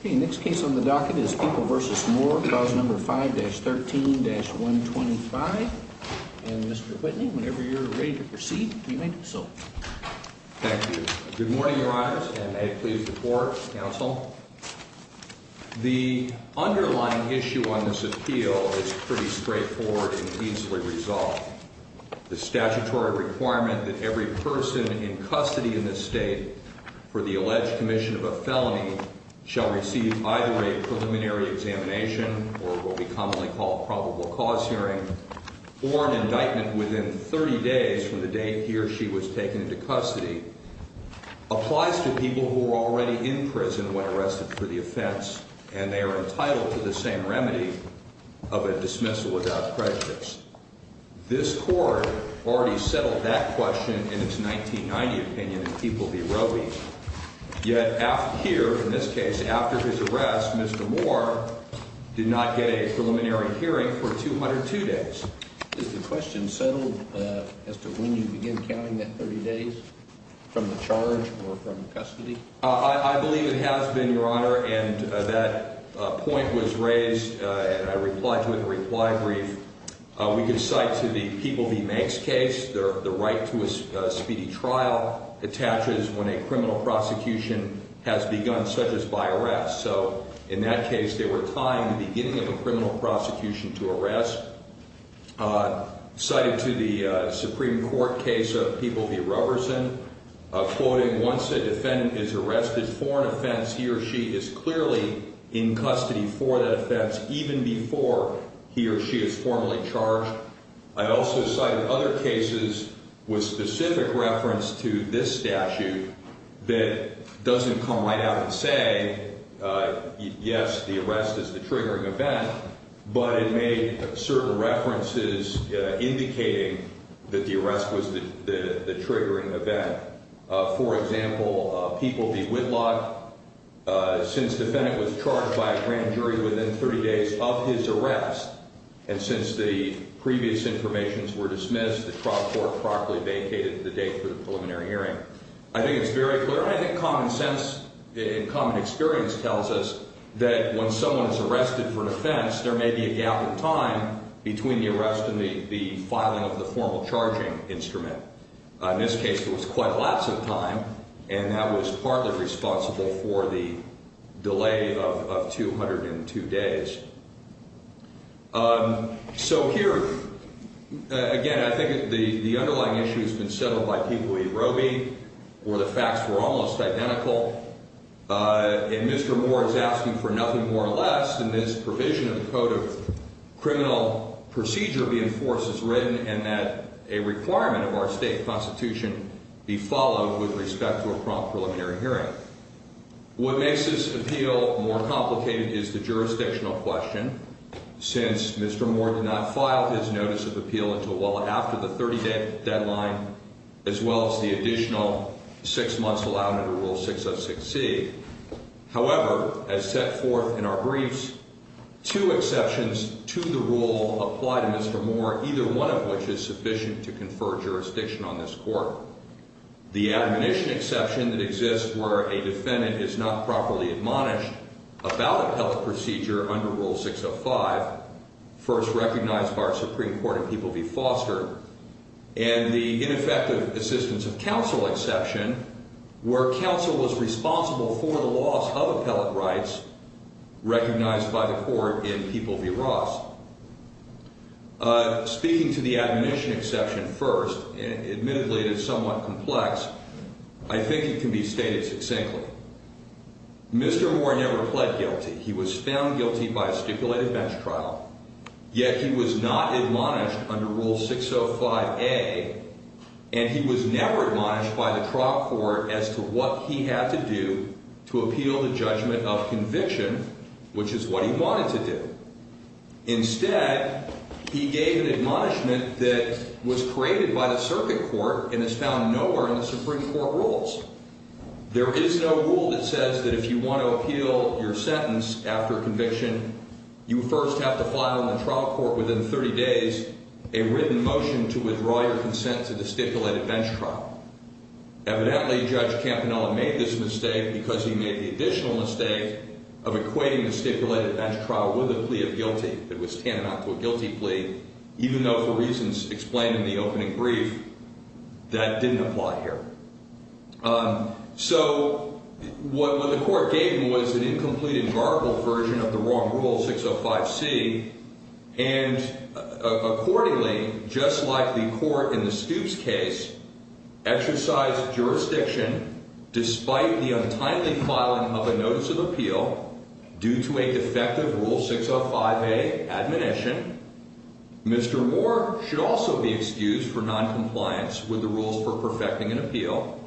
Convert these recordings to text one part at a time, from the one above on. Okay, next case on the docket is People v. Moore, Clause No. 5-13-125. And Mr. Whitney, whenever you're ready to proceed, you may do so. Thank you. Good morning, Your Honors, and may it please the Court, Counsel. The underlying issue on this appeal is pretty straightforward and easily resolved. The statutory requirement that every person in custody in this state for the alleged commission of a felony shall receive either a preliminary examination, or what we commonly call a probable cause hearing, or an indictment within 30 days from the date he or she was taken into custody applies to people who were already in prison when arrested for the offense and they are entitled to the same remedy of a dismissal without prejudice. This Court already settled that question in its 1990 opinion in People v. Roe v. Yet here, in this case, after his arrest, Mr. Moore did not get a preliminary hearing for 202 days. Is the question settled as to when you begin counting that 30 days from the charge or from custody? I believe it has been, Your Honor, and that point was raised and I replied to it in a reply brief We could cite to the People v. Manks case the right to a speedy trial attaches when a criminal prosecution has begun, such as by arrest. So, in that case, they were tying the beginning of a criminal prosecution to arrest. Cited to the Supreme Court case of People v. Roberson, quoting, once a defendant is arrested for an offense, he or she is clearly in custody for that offense even before he or she is formally charged. I also cited other cases with specific reference to this statute that doesn't come right out and say, yes, the arrest is the triggering event, but it made certain references indicating that the arrest was the triggering event. For example, People v. Whitlock, since the defendant was charged by a grand jury within 30 days of his arrest and since the previous informations were dismissed, the trial court promptly vacated the date for the preliminary hearing. I think it's very clear and I think common sense and common experience tells us that when someone is arrested for an offense, there may be a gap in time between the arrest and the filing of the formal charging instrument. In this case, there was quite lots of time, and that was partly responsible for the delay of 202 days. So here, again, I think the underlying issue has been settled by People v. Roby, where the facts were almost identical, and Mr. Moore is asking for nothing more or less than this provision of the Code of Criminal Procedure be enforced as written and that a requirement of our state constitution be followed with respect to a prompt preliminary hearing. What makes this appeal more complicated is the jurisdictional question, since Mr. Moore did not file his notice of appeal until well after the 30-day deadline, as well as the additional six months allowed under Rule 606C. However, as set forth in our briefs, two exceptions to the rule apply to Mr. Moore, either one of which is sufficient to confer jurisdiction on this court. The admonition exception that exists where a defendant is not properly admonished about a health procedure under Rule 605, first recognized by our Supreme Court in People v. Foster, and the ineffective assistance of counsel exception where counsel was responsible for the loss of appellate rights recognized by the court in People v. Ross. Speaking to the admonition exception first, and admittedly it is somewhat complex, I think it can be stated succinctly. Mr. Moore never pled guilty. He was found guilty by a stipulated bench trial. Yet he was not admonished under Rule 605A, and he was never admonished by the trial court as to what he had to do to appeal the judgment of conviction, which is what he wanted to do. Instead, he gave an admonishment that was created by the circuit court and is found nowhere in the Supreme Court rules. There is no rule that says that if you want to appeal your sentence after conviction, you first have to file in the trial court within 30 days a written motion to withdraw your consent to the stipulated bench trial. Evidently, Judge Campanella made this mistake because he made the additional mistake of equating the stipulated bench trial with a plea of guilty that was tantamount to a guilty plea, even though for reasons explained in the opening brief, that didn't apply here. So what the court gave him was an incomplete and garbled version of the wrong Rule 605C, and accordingly, just like the court in the Stoops case exercised jurisdiction despite the untimely filing of a notice of appeal due to a defective Rule 605A admonition, Mr. Moore should also be excused for noncompliance with the rules for perfecting an appeal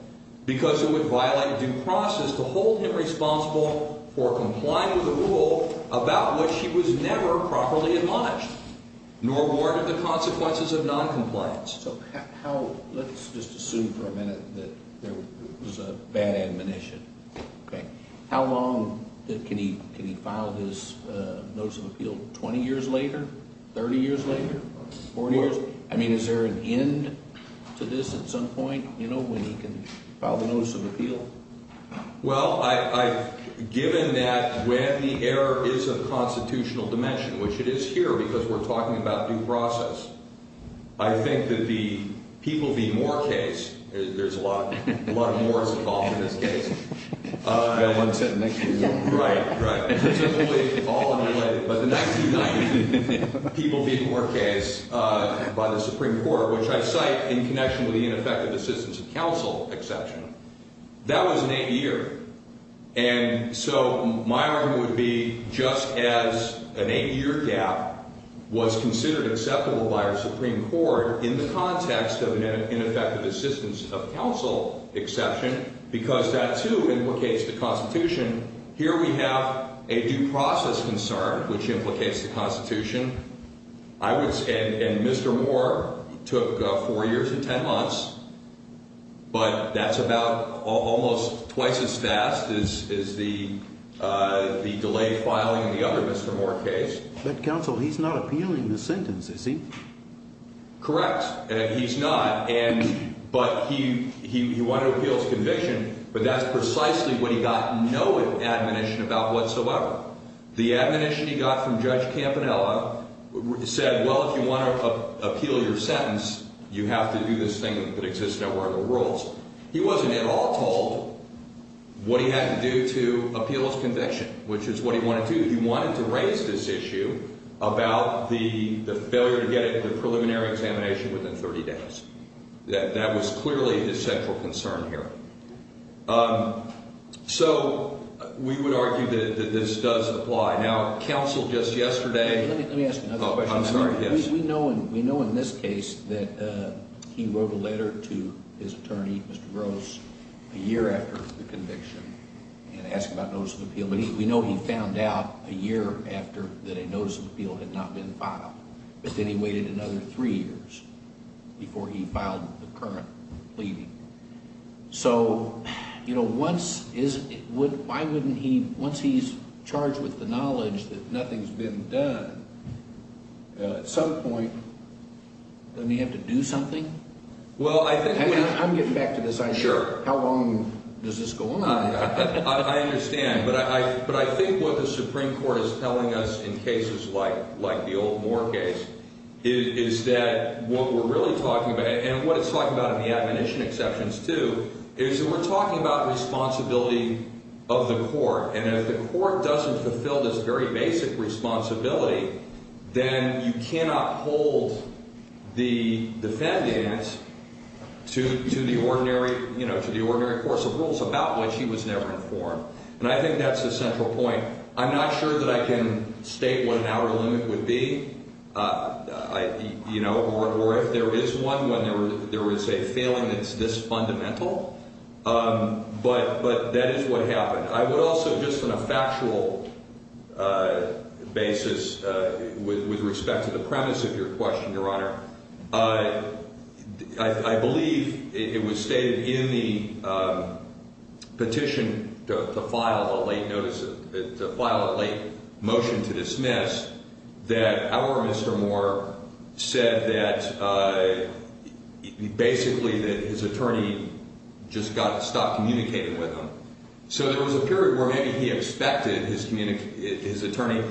because it would violate due process to hold him responsible for complying with a rule about which he was never properly admonished, nor warranted the consequences of noncompliance. Let's just assume for a minute that there was a bad admonition. Okay. How long can he file this notice of appeal? Twenty years later? Thirty years later? Forty years? I mean, is there an end to this at some point, you know, when he can file the notice of appeal? Well, I've given that when the error is of constitutional dimension, which it is here because we're talking about due process, I think that the People v. Moore case, there's a lot of Moores involved in this case. I've got one sitting next to me. Right, right. It's simply all in the way. But the 1990 People v. Moore case by the Supreme Court, which I cite in connection with the ineffective assistance of counsel exception, that was an 80-year. And so my argument would be just as an 80-year gap was considered acceptable by our Supreme Court in the context of an ineffective assistance of counsel exception, because that, too, implicates the Constitution. Here we have a due process concern, which implicates the Constitution. And Mr. Moore took four years and ten months, but that's about almost twice as fast as the delayed filing in the other Mr. Moore case. But counsel, he's not appealing the sentence, is he? Correct. He's not, but he wanted to appeal his conviction, but that's precisely what he got no admonition about whatsoever. The admonition he got from Judge Campanella said, well, if you want to appeal your sentence, you have to do this thing that exists nowhere in the world. He wasn't at all told what he had to do to appeal his conviction, which is what he wanted to do. He wanted to raise this issue about the failure to get a preliminary examination within 30 days. That was clearly his central concern here. So we would argue that this does apply. Now, counsel just yesterday— Let me ask another question. I'm sorry, yes. We know in this case that he wrote a letter to his attorney, Mr. Gross, a year after the conviction and asked about notice of appeal. But we know he found out a year after that a notice of appeal had not been filed. But then he waited another three years before he filed the current pleading. So, you know, once he's charged with the knowledge that nothing's been done, at some point, doesn't he have to do something? Well, I think— I'm getting back to this. Sure. How long does this go on? I understand. But I think what the Supreme Court is telling us in cases like the old Moore case is that what we're really talking about— is that we're talking about responsibility of the court. And if the court doesn't fulfill this very basic responsibility, then you cannot hold the defendant to the ordinary course of rules about which he was never informed. And I think that's the central point. I'm not sure that I can state what an outer limit would be. You know, or if there is one, when there is a failing that's this fundamental. But that is what happened. I would also, just on a factual basis, with respect to the premise of your question, Your Honor, I believe it was stated in the petition to file a late motion to dismiss that our Mr. Moore said that basically that his attorney just got to stop communicating with him. So there was a period where maybe he expected his attorney—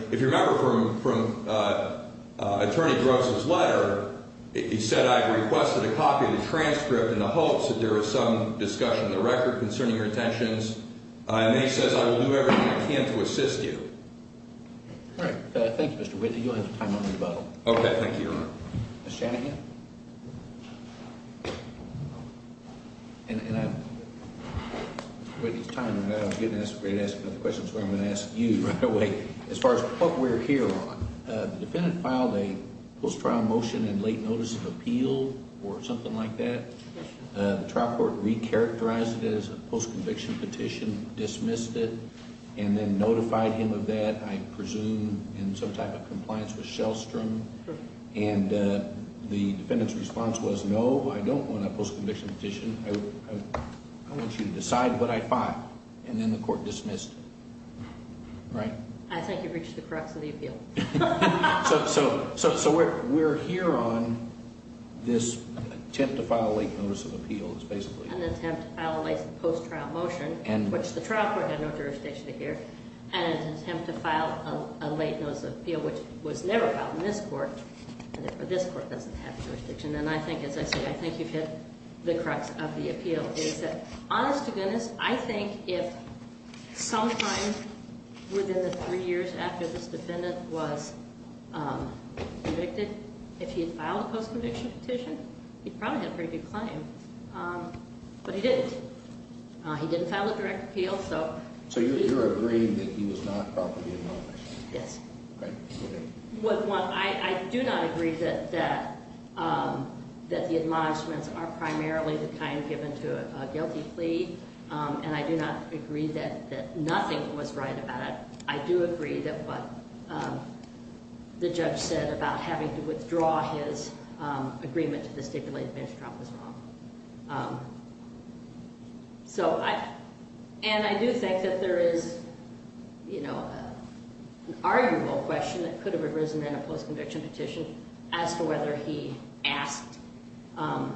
he said, I've requested a copy of the transcript in the hopes that there is some discussion in the record concerning your intentions. And he says, I will do everything I can to assist you. All right. Thank you, Mr. Whitney. You'll have time on your button. Okay. Thank you, Your Honor. Ms. Shanahan? And I— Mr. Whitney's time is up. I was getting ready to ask another question, so I'm going to ask you right away. As far as what we're here on, the defendant filed a post-trial motion and late notice of appeal or something like that. The trial court re-characterized it as a post-conviction petition, dismissed it, and then notified him of that, I presume, in some type of compliance with Shellstrom. And the defendant's response was, no, I don't want a post-conviction petition. I want you to decide what I file. And then the court dismissed it. Right? I think you've reached the crux of the appeal. So we're here on this attempt to file a late notice of appeal is basically— An attempt to file a late post-trial motion, which the trial court had no jurisdiction to hear. And an attempt to file a late notice of appeal, which was never filed in this court, and therefore this court doesn't have jurisdiction. And I think, as I said, I think you've hit the crux of the appeal. Honest to goodness, I think if sometime within the three years after this defendant was convicted, if he had filed a post-conviction petition, he probably had a pretty big claim. But he didn't. He didn't file a direct appeal, so— So you're agreeing that he was not properly admonished? Yes. Right. I do not agree that the admonishments are primarily the kind given to a guilty plea. And I do not agree that nothing was right about it. I do agree that what the judge said about having to withdraw his agreement to the stipulated bench drop was wrong. So I—and I do think that there is, you know, an arguable question that could have arisen in a post-conviction petition as to whether he asked—no,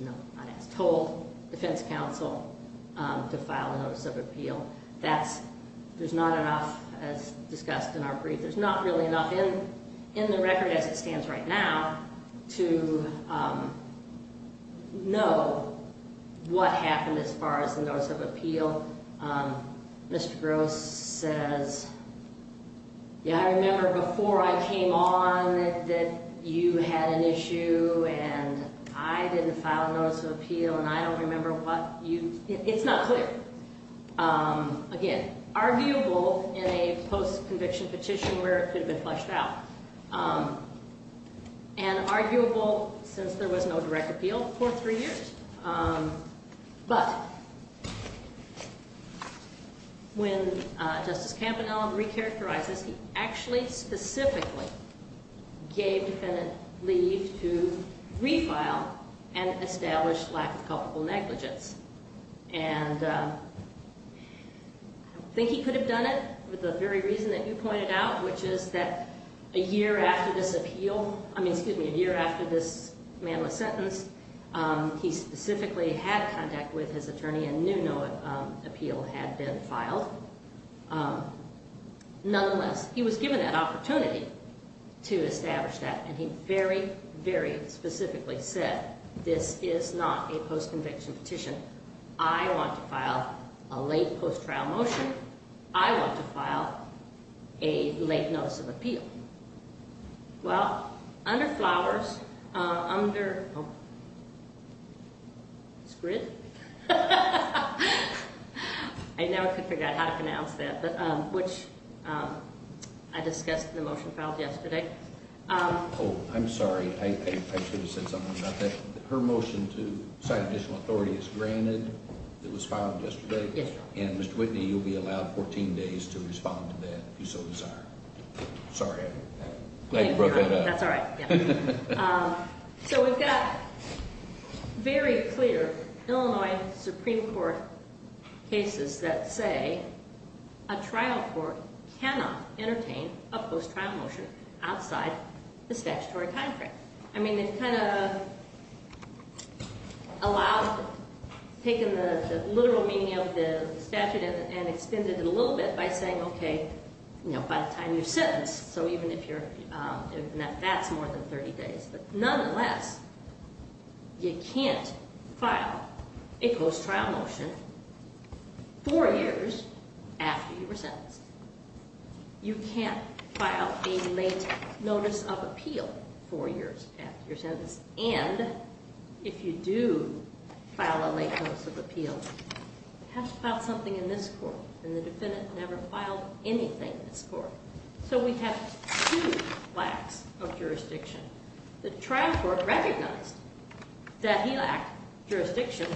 not asked—told defense counsel to file a notice of appeal. There's not enough, as discussed in our brief, there's not really enough in the record as it stands right now to know what happened as far as the notice of appeal. Mr. Gross says, yeah, I remember before I came on that you had an issue and I didn't file a notice of appeal and I don't remember what you—it's not clear. Again, arguable in a post-conviction petition where it could have been flushed out. And arguable since there was no direct appeal for three years. But when Justice Campanella recharacterizes, he actually specifically gave defendant leave to refile and establish lack of culpable negligence. And I don't think he could have done it with the very reason that you pointed out, which is that a year after this appeal—I mean, excuse me, a year after this manless sentence, he specifically had contact with his attorney and knew no appeal had been filed. Nonetheless, he was given that opportunity to establish that and he very, very specifically said, this is not a post-conviction petition. I want to file a late post-trial motion. I want to file a late notice of appeal. Well, under Flowers, under—oh, Scrid? I never could figure out how to pronounce that, which I discussed in the motion filed yesterday. Oh, I'm sorry. I should have said something about that. Her motion to sign additional authority is granted. It was filed yesterday. Yes, Your Honor. And Mr. Whitney, you'll be allowed 14 days to respond to that if you so desire. Sorry. I broke that up. That's all right. So we've got very clear Illinois Supreme Court cases that say a trial court cannot entertain a post-trial motion outside the statutory time frame. I mean, they've kind of allowed—taken the literal meaning of the statute and extended it a little bit by saying, okay, you know, by the time you're sentenced. So even if you're—that's more than 30 days. But nonetheless, you can't file a post-trial motion four years after you were sentenced. You can't file a late notice of appeal four years after you're sentenced. And if you do file a late notice of appeal, you have to file something in this court. And the defendant never filed anything in this court. So we have two lacks of jurisdiction. The trial court recognized that he lacked jurisdiction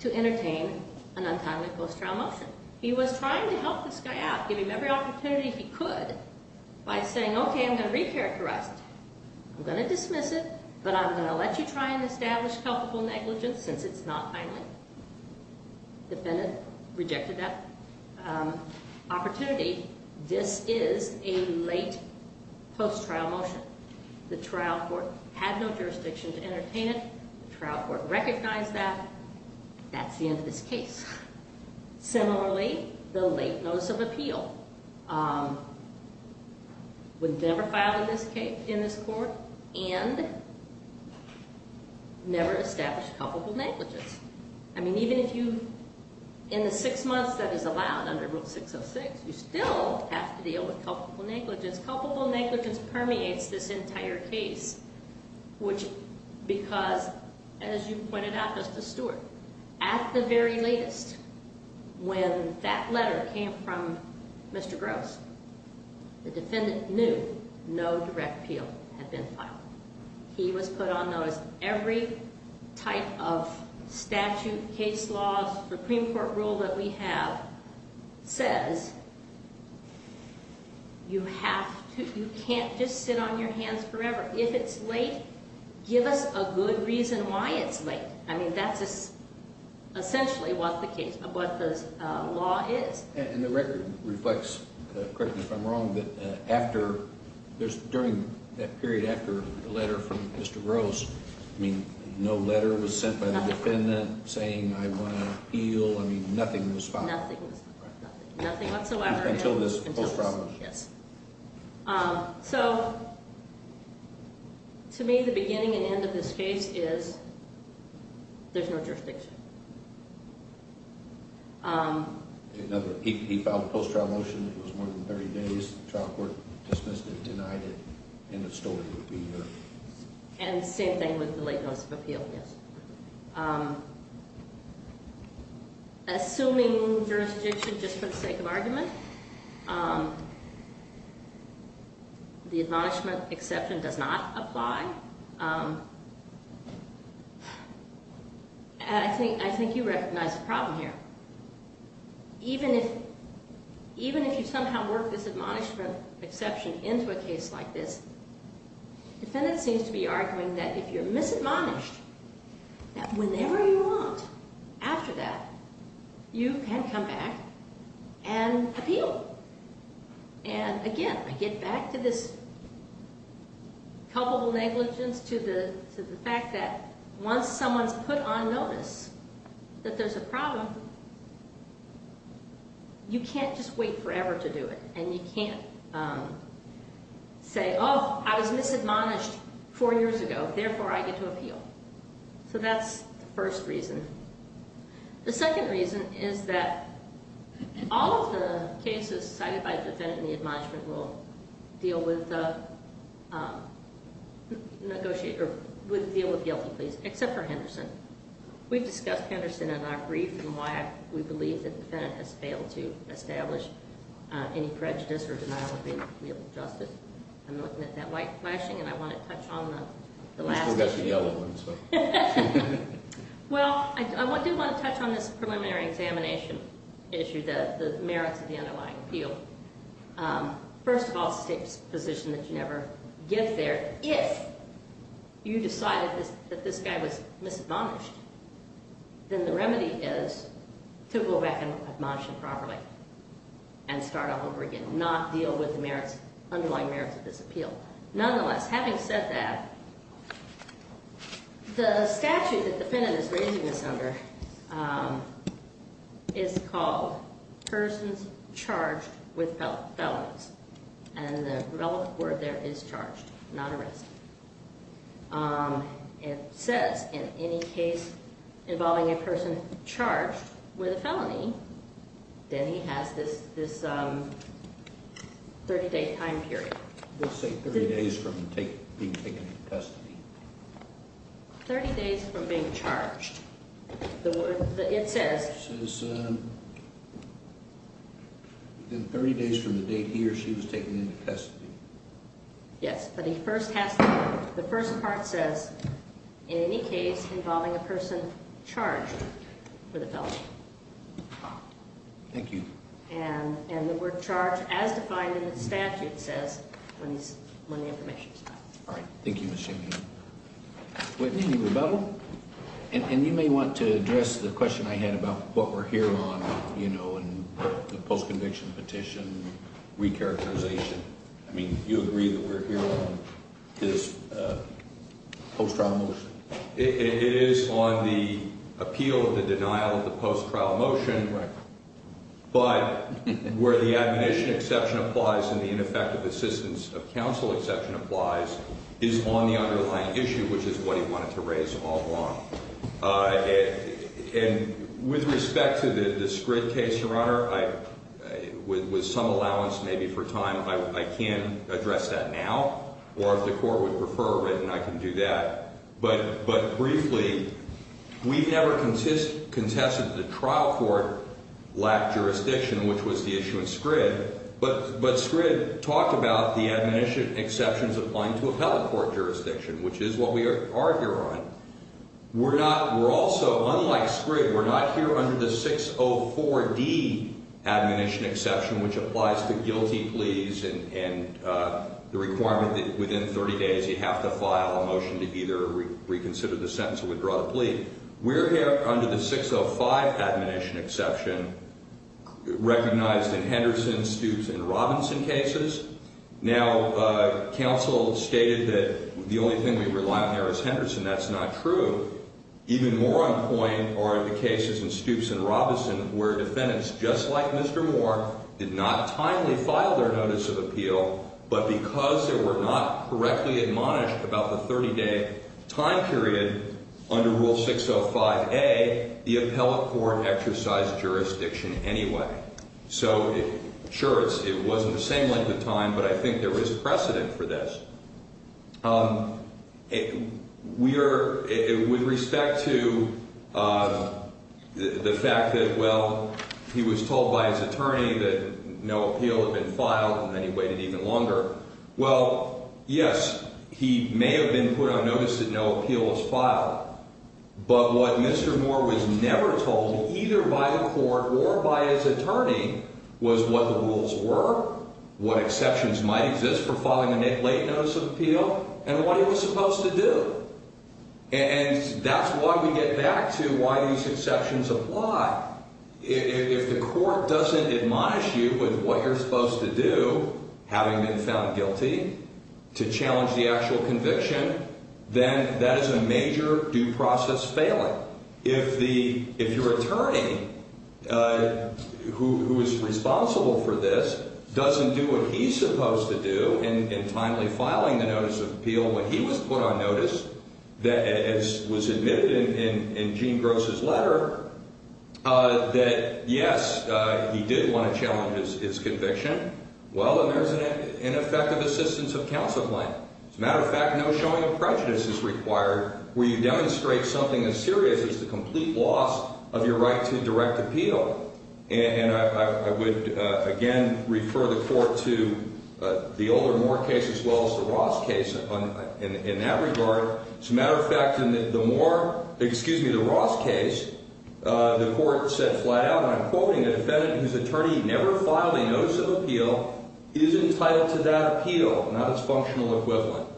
to entertain an untimely post-trial motion. He was trying to help this guy out, give him every opportunity he could by saying, okay, I'm going to recharacterize it. I'm going to dismiss it, but I'm going to let you try and establish culpable negligence since it's not timely. The defendant rejected that opportunity. This is a late post-trial motion. The trial court had no jurisdiction to entertain it. The trial court recognized that. That's the end of this case. Similarly, the late notice of appeal would never file in this court and never establish culpable negligence. I mean, even if you, in the six months that is allowed under Rule 606, you still have to deal with culpable negligence. Culpable negligence permeates this entire case, which, because, as you pointed out, Justice Stewart, at the very latest, when that letter came from Mr. Gross, the defendant knew no direct appeal had been filed. He was put on notice. Every type of statute, case law, Supreme Court rule that we have says you can't just sit on your hands forever. If it's late, give us a good reason why it's late. I mean, that's essentially what the law is. And the record reflects, correct me if I'm wrong, that after, during that period after the letter from Mr. Gross, I mean, no letter was sent by the defendant saying, I want an appeal. I mean, nothing was filed. Nothing was filed. Nothing whatsoever. Until this post-trial motion. Yes. So, to me, the beginning and end of this case is there's no jurisdiction. He filed a post-trial motion. It was more than 30 days. The trial court dismissed it, denied it, and the story would be here. And the same thing with the late notice of appeal, yes. Assuming jurisdiction, just for the sake of argument, the admonishment exception does not apply. And I think you recognize the problem here. Even if you somehow work this admonishment exception into a case like this, the defendant seems to be arguing that if you're misadmonished, that whenever you want after that, you can come back and appeal. And, again, I get back to this culpable negligence to the fact that once someone's put on notice that there's a problem, you can't just wait forever to do it. And you can't say, oh, I was misadmonished four years ago, therefore I get to appeal. So that's the first reason. The second reason is that all of the cases cited by the defendant in the admonishment rule deal with guilty pleas except for Henderson. We've discussed Henderson in our brief and why we believe the defendant has failed to establish any prejudice or denial of legal justice. I'm looking at that white flashing, and I want to touch on the last one. Well, I do want to touch on this preliminary examination issue, the merits of the underlying appeal. First of all, it's a position that you never give there. If you decided that this guy was misadmonished, then the remedy is to go back and admonish him properly and start all over again, not deal with the underlying merits of this appeal. Nonetheless, having said that, the statute that the defendant is raising this under is called persons charged with felonies. And the relevant word there is charged, not arrested. It says in any case involving a person charged with a felony, then he has this 30-day time period. Let's say 30 days from being taken into custody. 30 days from being charged. The word that it says. It says within 30 days from the date he or she was taken into custody. Yes, but he first has to, the first part says in any case involving a person charged with a felony. Thank you. And the word charged as defined in the statute says when the information is done. All right. Thank you, Ms. Shaney. Whitney, any rebuttal? And you may want to address the question I had about what we're here on, you know, in the post-conviction petition recharacterization. I mean, you agree that we're here on this post-trial motion. It is on the appeal of the denial of the post-trial motion. Right. But where the admonition exception applies and the ineffective assistance of counsel exception applies is on the underlying issue, which is what he wanted to raise all along. And with respect to the Scrid case, Your Honor, with some allowance maybe for time, I can't address that now. Or if the court would prefer it written, I can do that. But briefly, we've never contested the trial court lack jurisdiction, which was the issue in Scrid. But Scrid talked about the admonition exceptions applying to appellate court jurisdiction, which is what we are here on. We're not, we're also, unlike Scrid, we're not here under the 604D admonition exception, which applies to guilty pleas and the requirement that within 30 days, you have to file a motion to either reconsider the sentence or withdraw the plea. We're here under the 605 admonition exception, recognized in Henderson, Stoops, and Robinson cases. Now, counsel stated that the only thing we rely on there is Henderson. That's not true. Even more on point are the cases in Stoops and Robinson where defendants, just like Mr. Moore, did not timely file their notice of appeal, but because they were not correctly admonished about the 30-day time period under Rule 605A, the appellate court exercised jurisdiction anyway. So, sure, it wasn't the same length of time, but I think there is precedent for this. We are, with respect to the fact that, well, he was told by his attorney that no appeal had been filed, and then he waited even longer. Well, yes, he may have been put on notice that no appeal was filed, but what Mr. Moore was never told, either by the court or by his attorney, was what the rules were, what exceptions might exist for filing a late notice of appeal, and what he was supposed to do. And that's why we get back to why these exceptions apply. If the court doesn't admonish you with what you're supposed to do, having been found guilty, to challenge the actual conviction, then that is a major due process failing. Well, if your attorney, who is responsible for this, doesn't do what he's supposed to do in timely filing the notice of appeal when he was put on notice, that was admitted in Gene Gross's letter, that, yes, he did want to challenge his conviction, well, then there's an ineffective assistance of counsel plan. As a matter of fact, no showing of prejudice is required where you demonstrate something as serious as the complete loss of your right to direct appeal. And I would, again, refer the court to the Older Moore case as well as the Ross case in that regard. As a matter of fact, in the Ross case, the court said flat out, and I'm quoting the defendant, whose attorney never filed a notice of appeal, is entitled to that appeal, not its functional equivalent.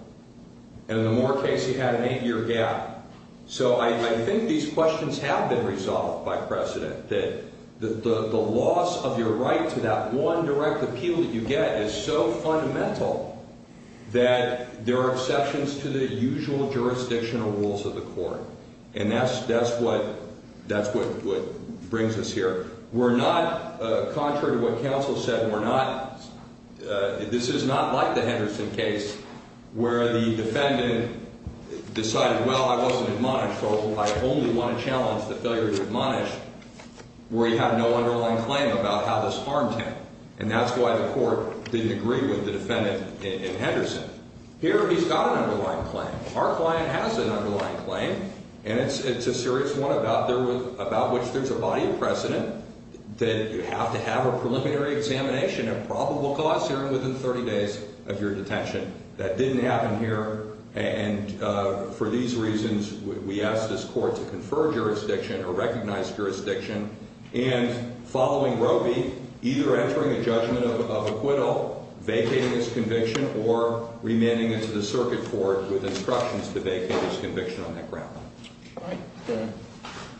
And in the Moore case, he had an eight-year gap. So I think these questions have been resolved by precedent, that the loss of your right to that one direct appeal that you get is so fundamental that there are exceptions to the usual jurisdictional rules of the court. And that's what brings us here. We're not, contrary to what counsel said, we're not, this is not like the Henderson case where the defendant decided, well, I wasn't admonished, so I only want to challenge the failure to admonish where you have no underlying claim about how this harmed him. And that's why the court didn't agree with the defendant in Henderson. Here, he's got an underlying claim. Our client has an underlying claim. And it's a serious one about which there's a body of precedent that you have to have a preliminary examination and probable cause hearing within 30 days of your detention. That didn't happen here. And for these reasons, we asked this court to confer jurisdiction or recognize jurisdiction. And following Robey, either entering a judgment of acquittal, vacating his conviction, or remanding it to the circuit court with instructions to vacate his conviction on that ground. All right.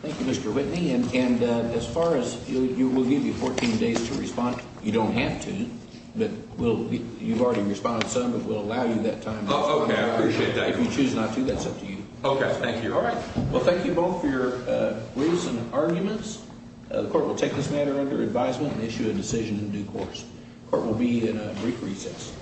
Thank you, Mr. Whitney. And as far as you, we'll give you 14 days to respond. You don't have to, but we'll, you've already responded, so we'll allow you that time. Okay, I appreciate that. If you choose not to, that's up to you. Okay, thank you. All right. Well, thank you both for your briefs and arguments. The court will take this matter under advisement and issue a decision in due course. The court will be in a brief recess.